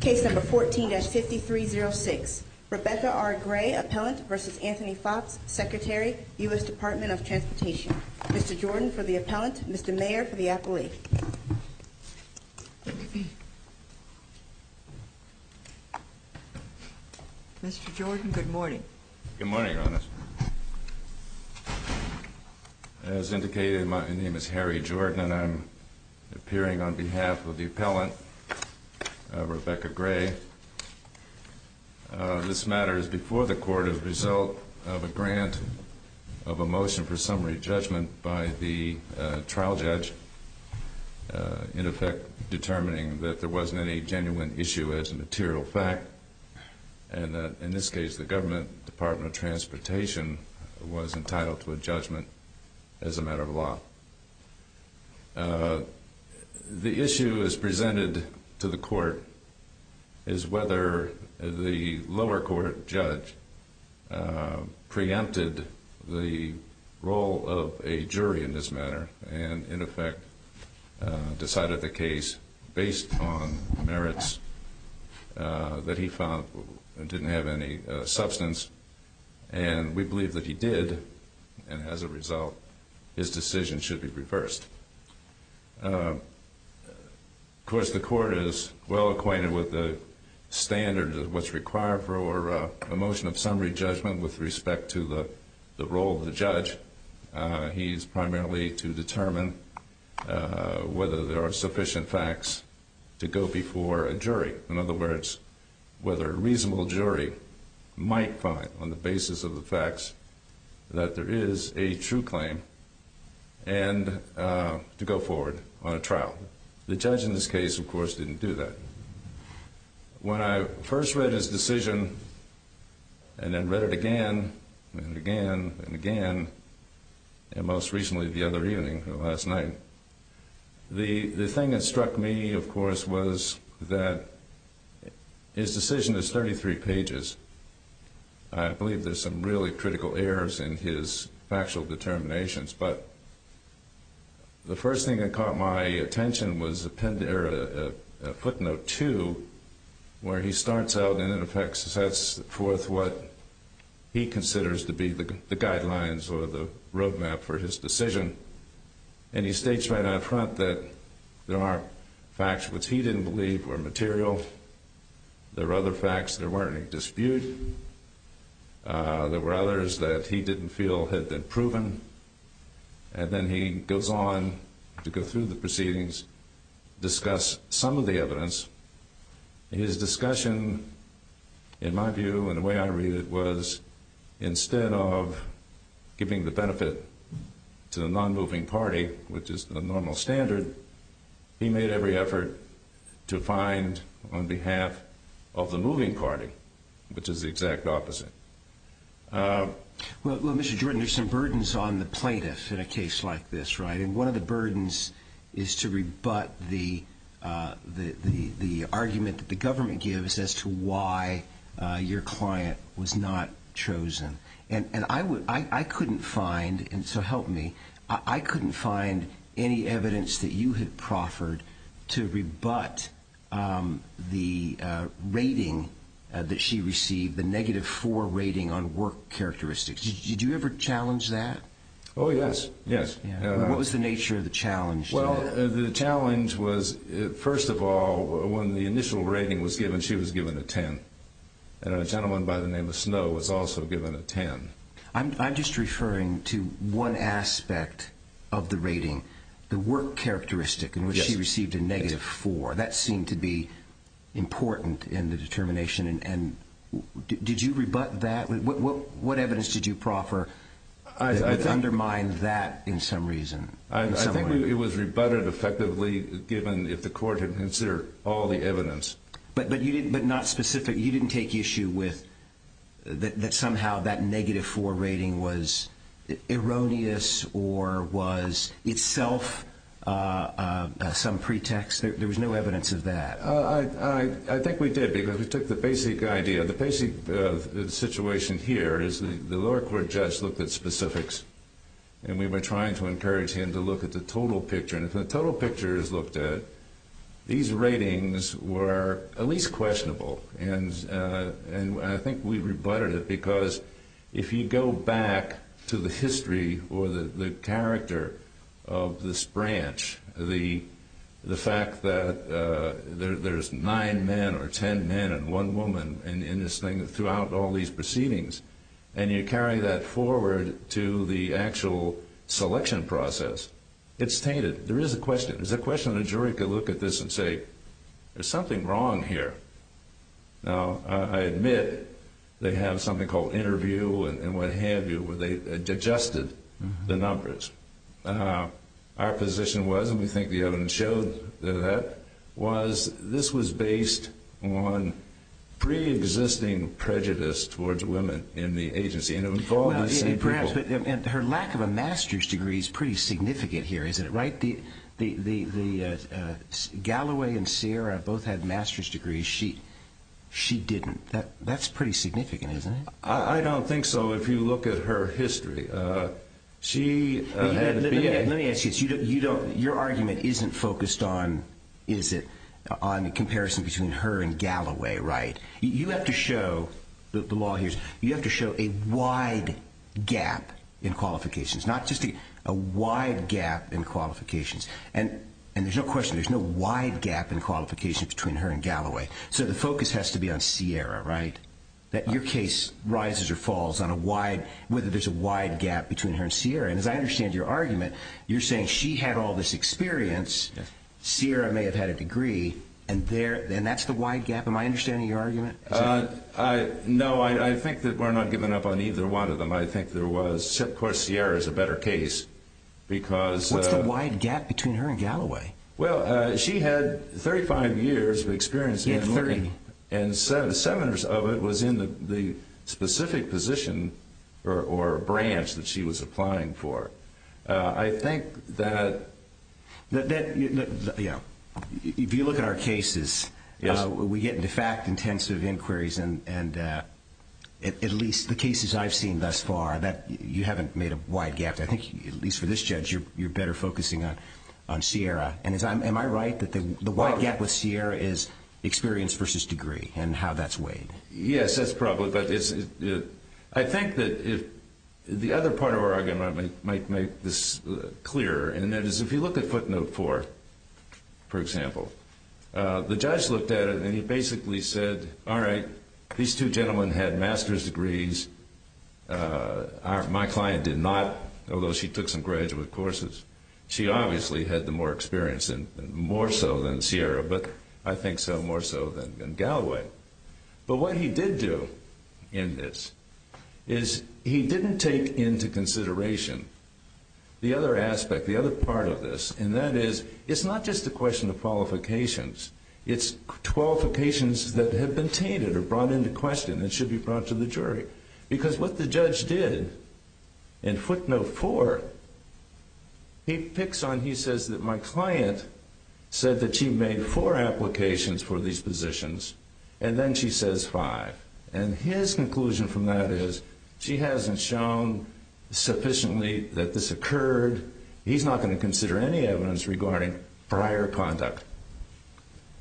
Case number 14-5306. Rebecca R. Gray, Appellant v. Anthony Foxx, Secretary, U.S. Department of Transportation. Mr. Jordan for the Appellant, Mr. Mayor for the Appellee. Mr. Jordan, good morning. Good morning, Your Honor. As indicated, my name is the Appellant, Rebecca Gray. This matter is before the Court as a result of a grant of a motion for summary judgment by the trial judge, in effect determining that there wasn't any genuine issue as a material fact. And in this case, the Government Department of to the Court is whether the lower court judge preempted the role of a jury in this matter and in effect decided the case based on merits that he found didn't have any substance. And we believe that he did. And as a result, his decision should be reversed. Of course, the Court is well acquainted with the standard of what's required for a motion of summary judgment with respect to the role of the judge. He's primarily to determine whether there are sufficient facts to go before a jury. In other words, whether a reasonable jury might find, on the basis of the facts, that there is a true claim and to go forward on a trial. The judge in this case, of course, didn't do that. When I first read his decision and then read it again and again and again, and most recently the other evening, last His decision is 33 pages. I believe there's some really critical errors in his factual determinations, but the first thing that caught my attention was a footnote 2, where he starts out and in effect sets forth what he considers to be the guidelines or the roadmap for his decision. And he states right out front that there are facts which he didn't believe were material. There were other facts there weren't any dispute. There were others that he didn't feel had been proven. And then he goes on to go through the proceedings, discuss some of the evidence. His discussion, in my view, and the way I read it, was instead of giving the benefit to the non-moving party, which is the normal standard, he made every effort to find on behalf of the moving party, which is the exact opposite. Well, Mr. Jordan, there's some burdens on the plaintiffs in a case like this, right? And one of the burdens is to rebut the argument that the government gives as to why your client was not chosen. And I couldn't find, and so help me, I couldn't find any evidence that you had proffered to rebut the rating that she received, the negative 4 rating on work characteristics. Did you ever challenge that? Oh, yes. Yes. What was the nature of the challenge? Well, the challenge was, first of all, when the initial rating was given, she was given a 10. And a gentleman by the name of Snow was also given a 10. I'm just referring to one aspect of the rating, the work characteristic in which she received a negative 4. That seemed to be important in the determination. And did you rebut that? What evidence did you proffer that undermined that in some reason? I think it was rebutted effectively, given if the court had considered all the evidence. But not specific, you didn't take issue with that somehow that negative 4 rating was erroneous or was itself some pretext? There was no evidence of that. I think we did, because we took the basic idea. The basic situation here is the lower court judge looked at specifics, and we were trying to encourage him to look at the total pictures looked at. These ratings were at least questionable. And I think we rebutted it, because if you go back to the history or the character of this branch, the fact that there's 9 men or 10 men and 1 woman throughout all these proceedings, and you carry that forward to the actual selection process, it's tainted. There is a question. There's a question that a jury could look at this and say, there's something wrong here. Now, I admit they have something called interview and what have you, where they adjusted the numbers. Our position was, and we think the evidence showed that, was this was based on pre-existing prejudice towards women in the agency. And it involved the same people. Her lack of a master's degree is pretty significant here, isn't it? Galloway and Sierra both had master's degrees. She didn't. That's pretty significant, isn't it? I don't think so, if you look at her history. Let me ask you this. Your argument isn't focused on the comparison between her and Galloway, right? You have to show a wide gap in qualifications. Not just a wide gap in qualifications. And there's no question, there's no wide gap in qualifications between her and Galloway. So the focus has to be on Sierra, right? That your case rises or falls on whether there's a wide gap between her and Sierra. And as I understand your argument, you're saying she had all this experience, Sierra may have had a degree, and that's the wide gap? Am I understanding your argument? No, I think that we're not giving up on either one of them. I think there was, of course, Sierra is a better case. What's the wide gap between her and Galloway? Well, she had 35 years of experience in learning, and seven years of it was in the specific position or branch that she was applying for. I think that, if you look at our cases, we get de facto intensive inquiries, and at least the cases I've seen thus far, you haven't made a wide gap. I think, at least for this judge, you're better focusing on Sierra. And am I right that the wide gap with Sierra is experience versus degree, and how that's weighed? Yes, that's probably, but I think that the other part of our argument might make this clearer, and that is, if you look at footnote four, for example, the judge looked at it, and he basically said, all right, these two gentlemen had master's degrees. My client did not, although she took some graduate courses. She obviously had more experience, more so than Galloway, but what he did do in this is he didn't take into consideration the other aspect, the other part of this, and that is, it's not just a question of qualifications. It's qualifications that have been tainted or brought into question that should be brought to the jury, because what the judge did in footnote four, he picks on, he says that my client said that she made four applications for these positions, and then she says five. And his conclusion from that is, she hasn't shown sufficiently that this occurred. He's not going to consider any evidence regarding prior conduct.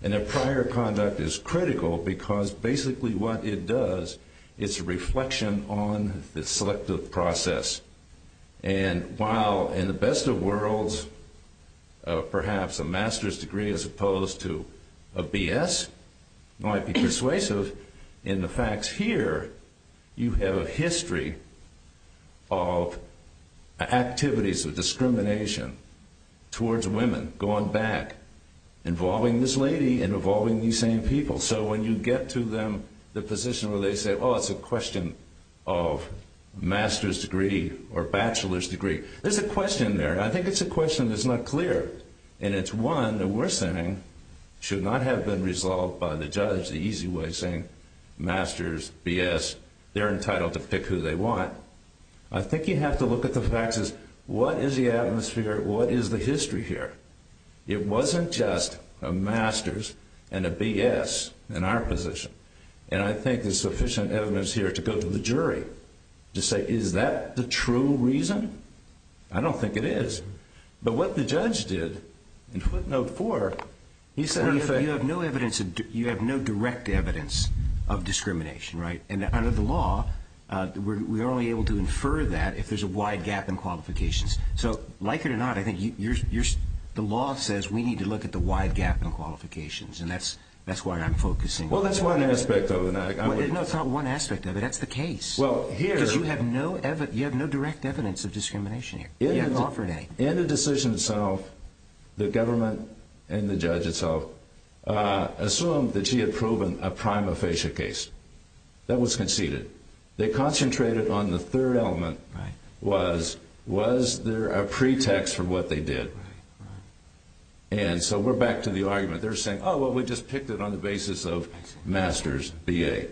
And that prior conduct is critical, because basically what it does is a reflection on the selective process. And while in the case of master's degree as opposed to a BS might be persuasive in the facts here, you have a history of activities of discrimination towards women going back, involving this lady and involving these same people. So when you get to them, the position where they say, oh, it's a question of master's degree or bachelor's degree, there's a question there. I think it's a question that's not clear. And it's one that we're saying should not have been resolved by the judge the easy way, saying master's, BS, they're entitled to pick who they want. I think you have to look at the facts as what is the atmosphere, what is the history here? It wasn't just a master's and a BS in our position. And I think there's sufficient evidence here to go to the jury to say, is that the true reason? I don't think it is. But what the judge did in footnote four, he said, you have no direct evidence of discrimination. And under the law, we're only able to infer that if there's a wide gap in qualifications. So like it or not, I think the law says we need to look at the wide gap in qualifications. And that's why I'm focusing on that. Well, that's one aspect of it. No, it's not one aspect of it. That's the case. Well, here- Because you have no direct evidence of discrimination here. In the decision itself, the government and the judge itself assumed that she had proven a prima facie case that was conceded. They concentrated on the third element, was there a pretext for what they did? And so we're back to the argument. They're saying, oh, well, we just picked it on the basis of master's, BA.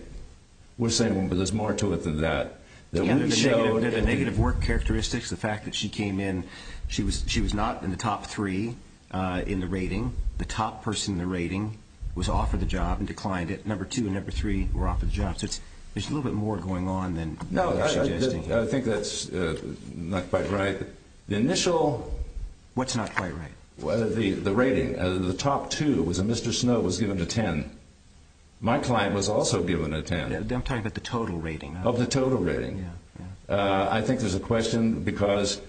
We're saying, well, there's more to it than that. The negative work characteristics, the fact that she came in, she was not in the top three in the rating. The top person in the rating was offered the job and declined it. Number two and number three were offered the job. So there's a little bit more going on than you're suggesting. I think that's not quite right. The initial- What's not quite right? The rating. The top two, it was a Mr. Snow, was given a 10. My client was also given a 10. I'm talking about the total rating. Of the total rating. I think there's a question because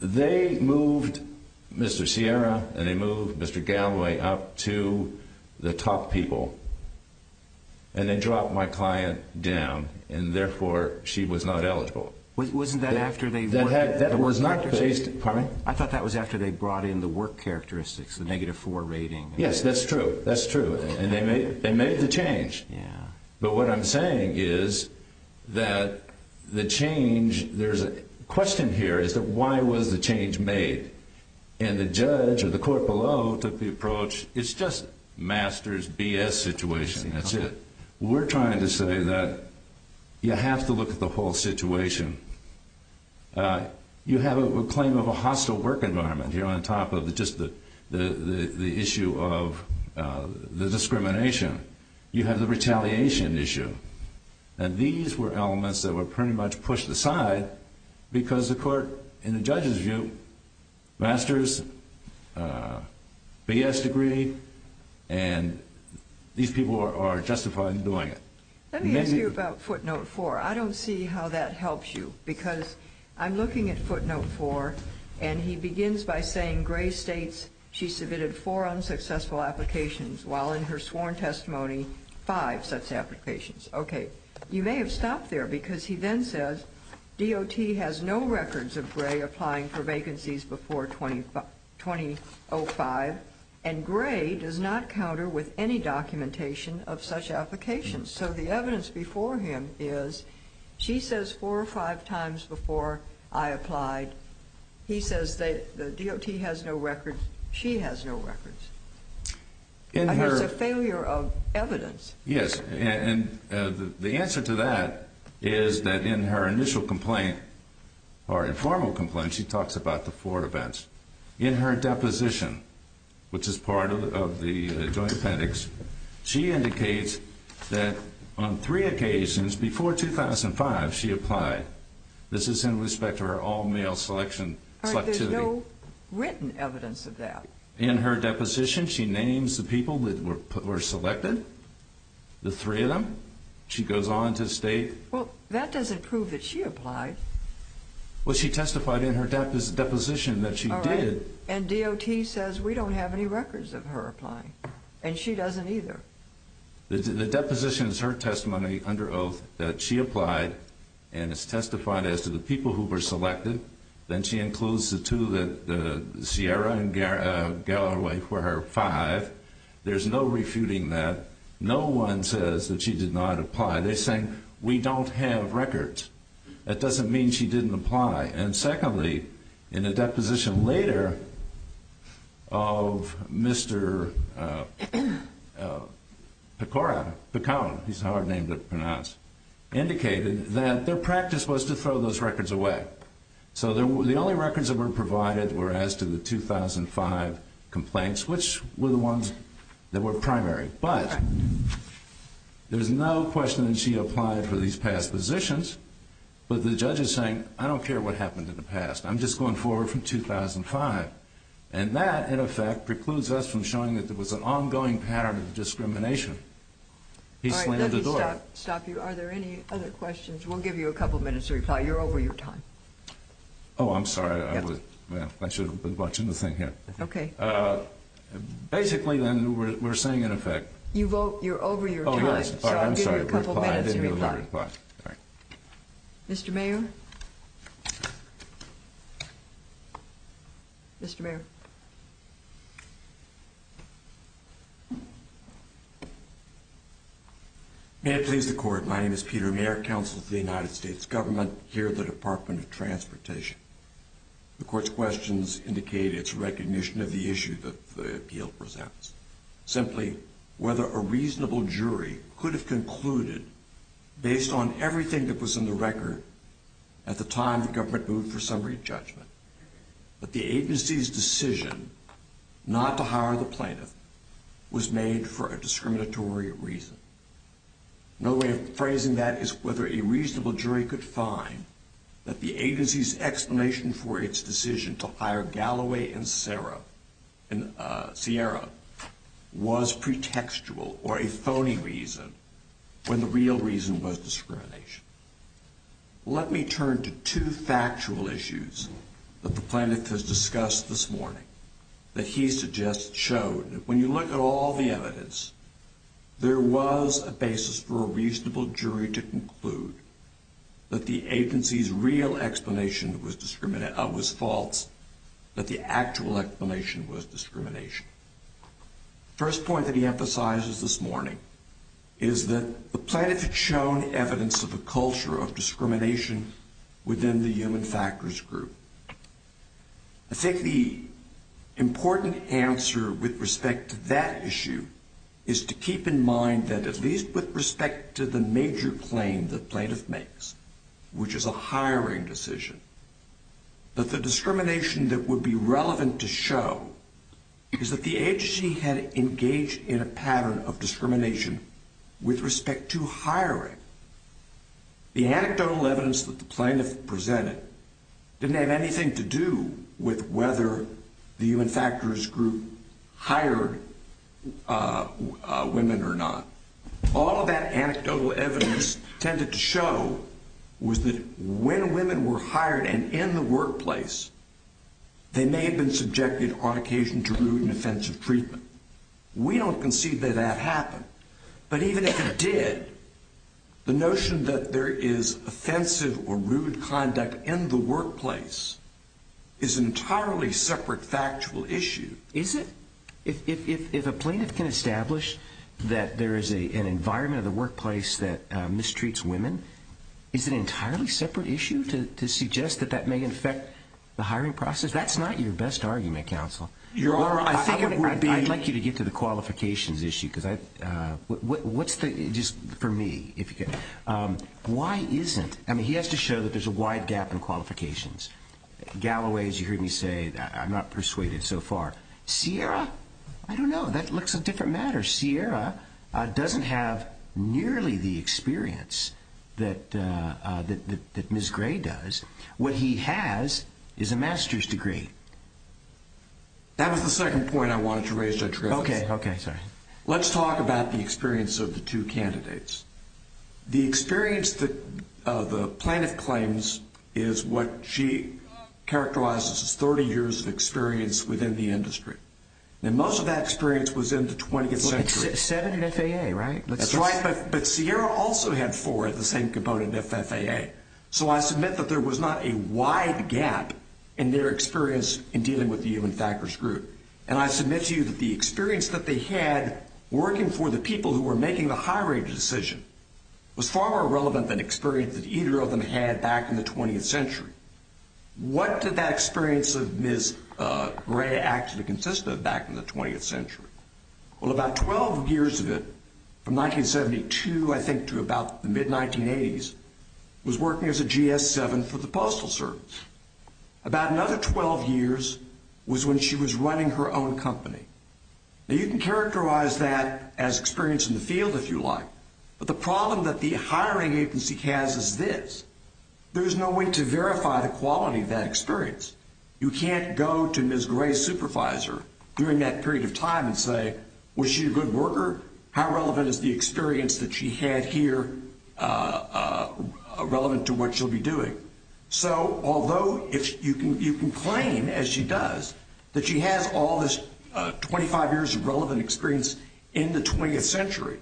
they moved Mr. Sierra and they moved Mr. Galloway up to the top people and they dropped my client down and therefore she was not eligible. Wasn't that after they- That was not- Pardon me? I thought that was after they brought in the work characteristics, the negative four rating. Yes, that's true. That's true. And they made the change. But what I'm saying is that the change, there's a question here is that why was the change made? And the judge or the court below took the approach, it's just master's BS situation. That's it. We're trying to say that you have to look at the whole situation. You have a claim of a hostile work environment here on top of just the issue of the discrimination. You have the retaliation issue. And these were elements that were pretty much pushed aside because the court, in the judge's view, master's BS degree and these people are justified in doing it. Let me ask you about footnote four. I don't see how that helps you because I'm looking at footnote four and he begins by saying Gray states she submitted four unsuccessful applications while in her sworn testimony, five such applications. Okay. You may have stopped there because he then says DOT has no records of Gray applying for vacancies before 2005. And Gray does not counter with any documentation of such applications. So the evidence before him is she says four or five times before I applied, he says that the DOT has no records. She has no records. That's a failure of evidence. Yes. And the answer to that is that in her initial complaint or informal complaint, she talks about the four events. In her deposition, which is part of the joint appendix, she indicates that on three occasions before 2005, she applied. This is in respect to her all-male selectivity. But there's no written evidence of that. In her deposition, she names the people that were selected, the three of them. She goes on to state. Well, that doesn't prove that she applied. Well, she testified in her deposition that she did. And DOT says we don't have any records of her applying. And she doesn't either. The deposition is her testimony under oath that she applied. And it's testified as to the people who were selected. Then she includes the two that Sierra and Galloway were her five. There's no refuting that. No one says that she did not apply. They're saying we don't have records. That doesn't mean she didn't apply. And secondly, in a deposition later of Mr. Pecone, he's a hard name to pronounce, indicated that their practice was to throw those records away. So the only records that were provided were as to the 2005 complaints, which were the ones that were primary. But there's no question that she applied for these past positions. But the judge is I'm just going forward from 2005. And that, in effect, precludes us from showing that there was an ongoing pattern of discrimination. All right, let me stop you. Are there any other questions? We'll give you a couple minutes to reply. You're over your time. Oh, I'm sorry. I should have been watching the thing here. Okay. Basically, then, we're saying, in effect. You vote. You're over your time. So I'll give you a couple minutes to reply. Mr. Mayor. Mr. Mayor. May I please the court. My name is Peter Mayer, counsel to the United States government here at the Department of Transportation. The court's questions indicate its recognition of the issue that the appeal presents. Simply, whether a reasonable jury could have concluded, based on everything that was in the record at the time the government moved for summary judgment, that the agency's decision not to hire the plaintiff was made for a discriminatory reason. No way of phrasing that is whether a reasonable jury could find that the agency's for its decision to hire Galloway and Sierra was pretextual or a phony reason when the real reason was discrimination. Let me turn to two factual issues that the plaintiff has discussed this morning that he suggests showed. When you look at all the evidence, there was a basis for a reasonable jury to conclude that the agency's real explanation was discriminated was false, that the actual explanation was discrimination. First point that he emphasizes this morning is that the plaintiff had shown evidence of a culture of discrimination within the human factors group. I think the important answer with respect to that issue is to keep in mind that at least with respect to the major claim the plaintiff makes, which is a hiring decision, that the discrimination that would be relevant to show is that the agency had engaged in a pattern of discrimination with respect to hiring. The anecdotal evidence that the plaintiff presented didn't have anything to do with the human factors group hired women or not. All of that anecdotal evidence tended to show was that when women were hired and in the workplace, they may have been subjected on occasion to rude and offensive treatment. We don't concede that that happened, but even if it did, the notion that there is offensive or rude conduct in the workplace is an entirely separate factual issue. Is it? If a plaintiff can establish that there is an environment in the workplace that mistreats women, is it an entirely separate issue to suggest that that may affect the hiring process? That's not your best argument, counsel. I'd like you to get to the qualifications issue. What's the, just for me, why isn't, I mean, he has to show that there's a wide gap in qualifications. Galloway, as you heard me say, I'm not persuaded so far. Sierra, I don't know. That looks a different matter. Sierra doesn't have nearly the experience that Ms. Gray does. What he has is a master's degree. That was the second point I wanted to raise, Judge Gross. Okay, okay. Sorry. Let's talk about the experience of the two candidates. The experience that the plaintiff claims is what she characterizes as 30 years of experience within the industry. Now, most of that experience was in the 20th century. Seven in FAA, right? That's right, but Sierra also had four at the same component FFAA, so I submit that there was not a wide gap in their experience in dealing with the Ewing-Thackers group, and I submit to you that the experience that they had working for the people who were making the high-rated decision was far more relevant than experience that either of them had back in the 20th century. What did that experience of Ms. Gray actually consist of back in the 20th century? Well, about 12 years of it, from 1972, I think, to about the mid-1980s, was working as a GS-7 for the Postal Service. About another 12 years was when she was running her own company. Now, you can characterize that as experience in the field if you like, but the problem that the hiring agency has is this. There's no way to verify the quality of that experience. You can't go to Ms. Gray's supervisor during that period of time and say, was she a good worker? How relevant is the experience that she had here relevant to what she'll be doing? So although you can claim, as she does, that she has all this 25 years of relevant experience in the 20th century,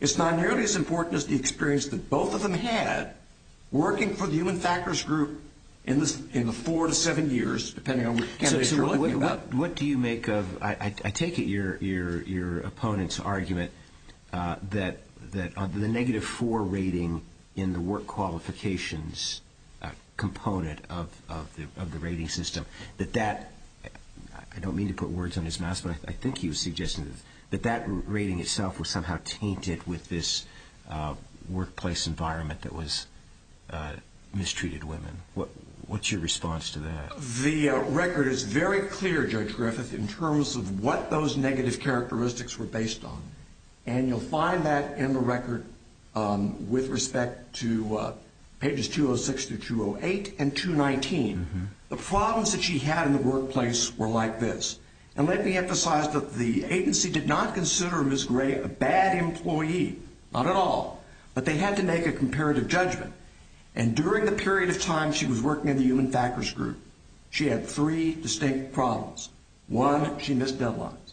it's not nearly as important as the experience that both of them had working for the Ewing-Thackers group in the four to seven years, depending on what you're looking at. What do you make of, I take it, your opponent's argument that the negative four rating in the work qualifications component of the rating system, that that, I don't mean to put words on his mouth, but I think he was suggesting that that rating itself was somehow tainted with this workplace environment that mistreated women. What's your response to that? The record is very clear, Judge Griffith, in terms of what those negative characteristics were based on. You'll find that in the record with respect to pages 206 through 208 and 219. The problems that she had in the workplace were like this. Let me emphasize that the agency did not consider Ms. Gray a bad employee, not at all, but they had to make a comparative judgment. During the period of time she was working in the Ewing-Thackers group, she had three distinct problems. One, she missed deadlines.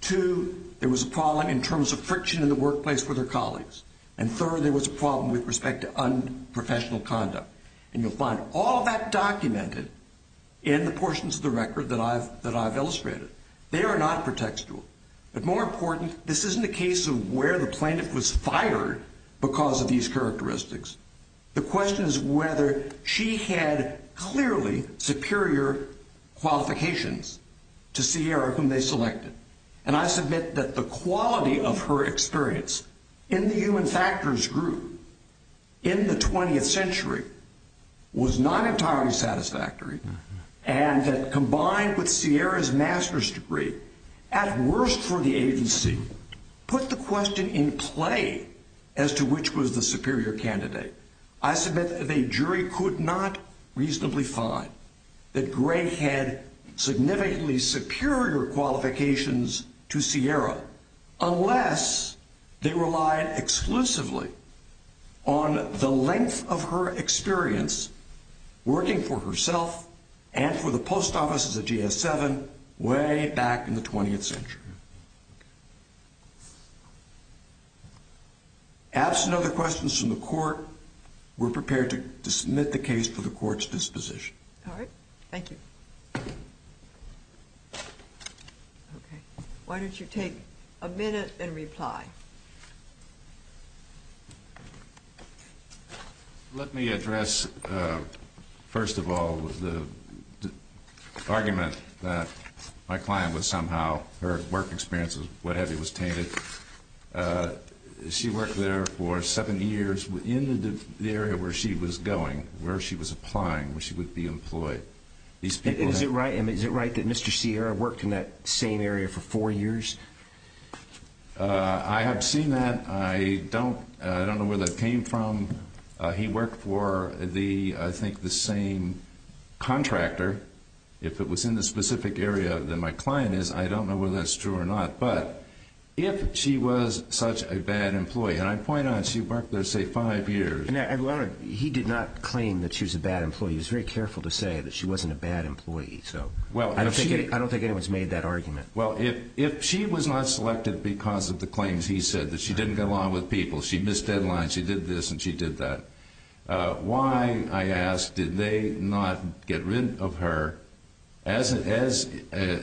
Two, there was a problem in terms of friction in the workplace with her colleagues. And third, there was a problem with respect to unprofessional conduct. And you'll find all that documented in the portions of the record that I've illustrated. They are not pretextual. But more important, this isn't a case of where the plaintiff was fired because of these characteristics. The question is whether she had clearly superior qualifications to Sierra, whom they selected. And I submit that the quality of her experience in the Ewing-Thackers group in the 20th century was not entirely satisfactory and that combined with Sierra's master's degree, at worst for the agency, put the question in play as to which was the superior candidate. I submit that a jury could not reasonably find that Gray had significantly superior qualifications to Sierra unless they relied exclusively on the length of her experience working for herself and for the post offices at GS-7 way back in the 20th century. Absent other questions from the court, we're prepared to submit the case for the court's disposition. All right. Thank you. OK. Why don't you take a minute and reply? Let me address, first of all, the argument that my client was somehow, her work experience was what have you, was tainted. She worked there for seven years in the area where she was going, where she was applying, where she would be employed. Is it right that Mr. Sierra worked in that same area for four years? I have seen that. I don't know where that came from. He worked for, I think, the same contractor. If it was in the specific area that my client is, I don't know whether that's true or not. But if she was such a bad employee, and I point out she worked there, say, five years. He did not claim that she was a bad employee. He was very careful to say that she wasn't a bad employee. So I don't think anyone's made that argument. Well, if she was not selected because of the claims he said that she didn't get along with people, she missed deadlines, she did this and she did that, why, I ask, did they not get rid of her as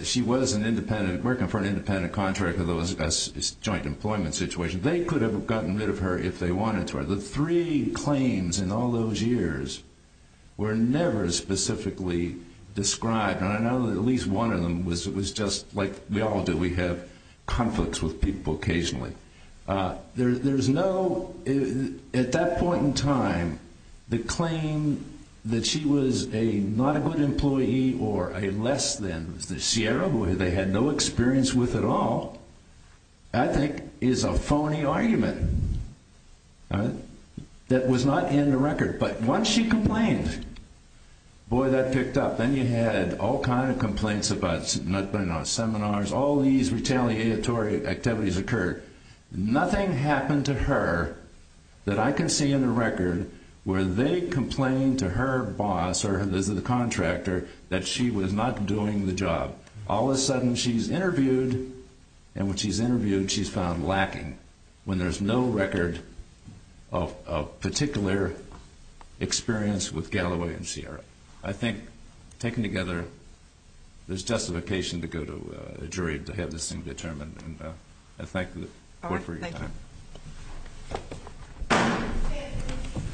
she was working for an independent contractor? That was a joint employment situation. They could have gotten rid of her if they wanted to. The three claims in all those years were never specifically described. And I know that at least one of them was just like we all do. We have conflicts with people occasionally. There's no, at that point in time, the claim that she was a not a good employee or a less than, the Sierra Boy they had no experience with at all, I think is a phony argument. That was not in the record. But once she complained, boy, that picked up. Then you had all kinds of complaints about seminars, all these retaliatory activities occurred. Nothing happened to her that I can see in the record where they complained to her boss or the contractor that she was not doing the job. All of a sudden, she's interviewed. And when she's interviewed, she's found lacking when there's no record of particular experience with Galloway and Sierra. I think taken together, there's justification to go to a jury to have this thing determined. Let's thank the court for your time.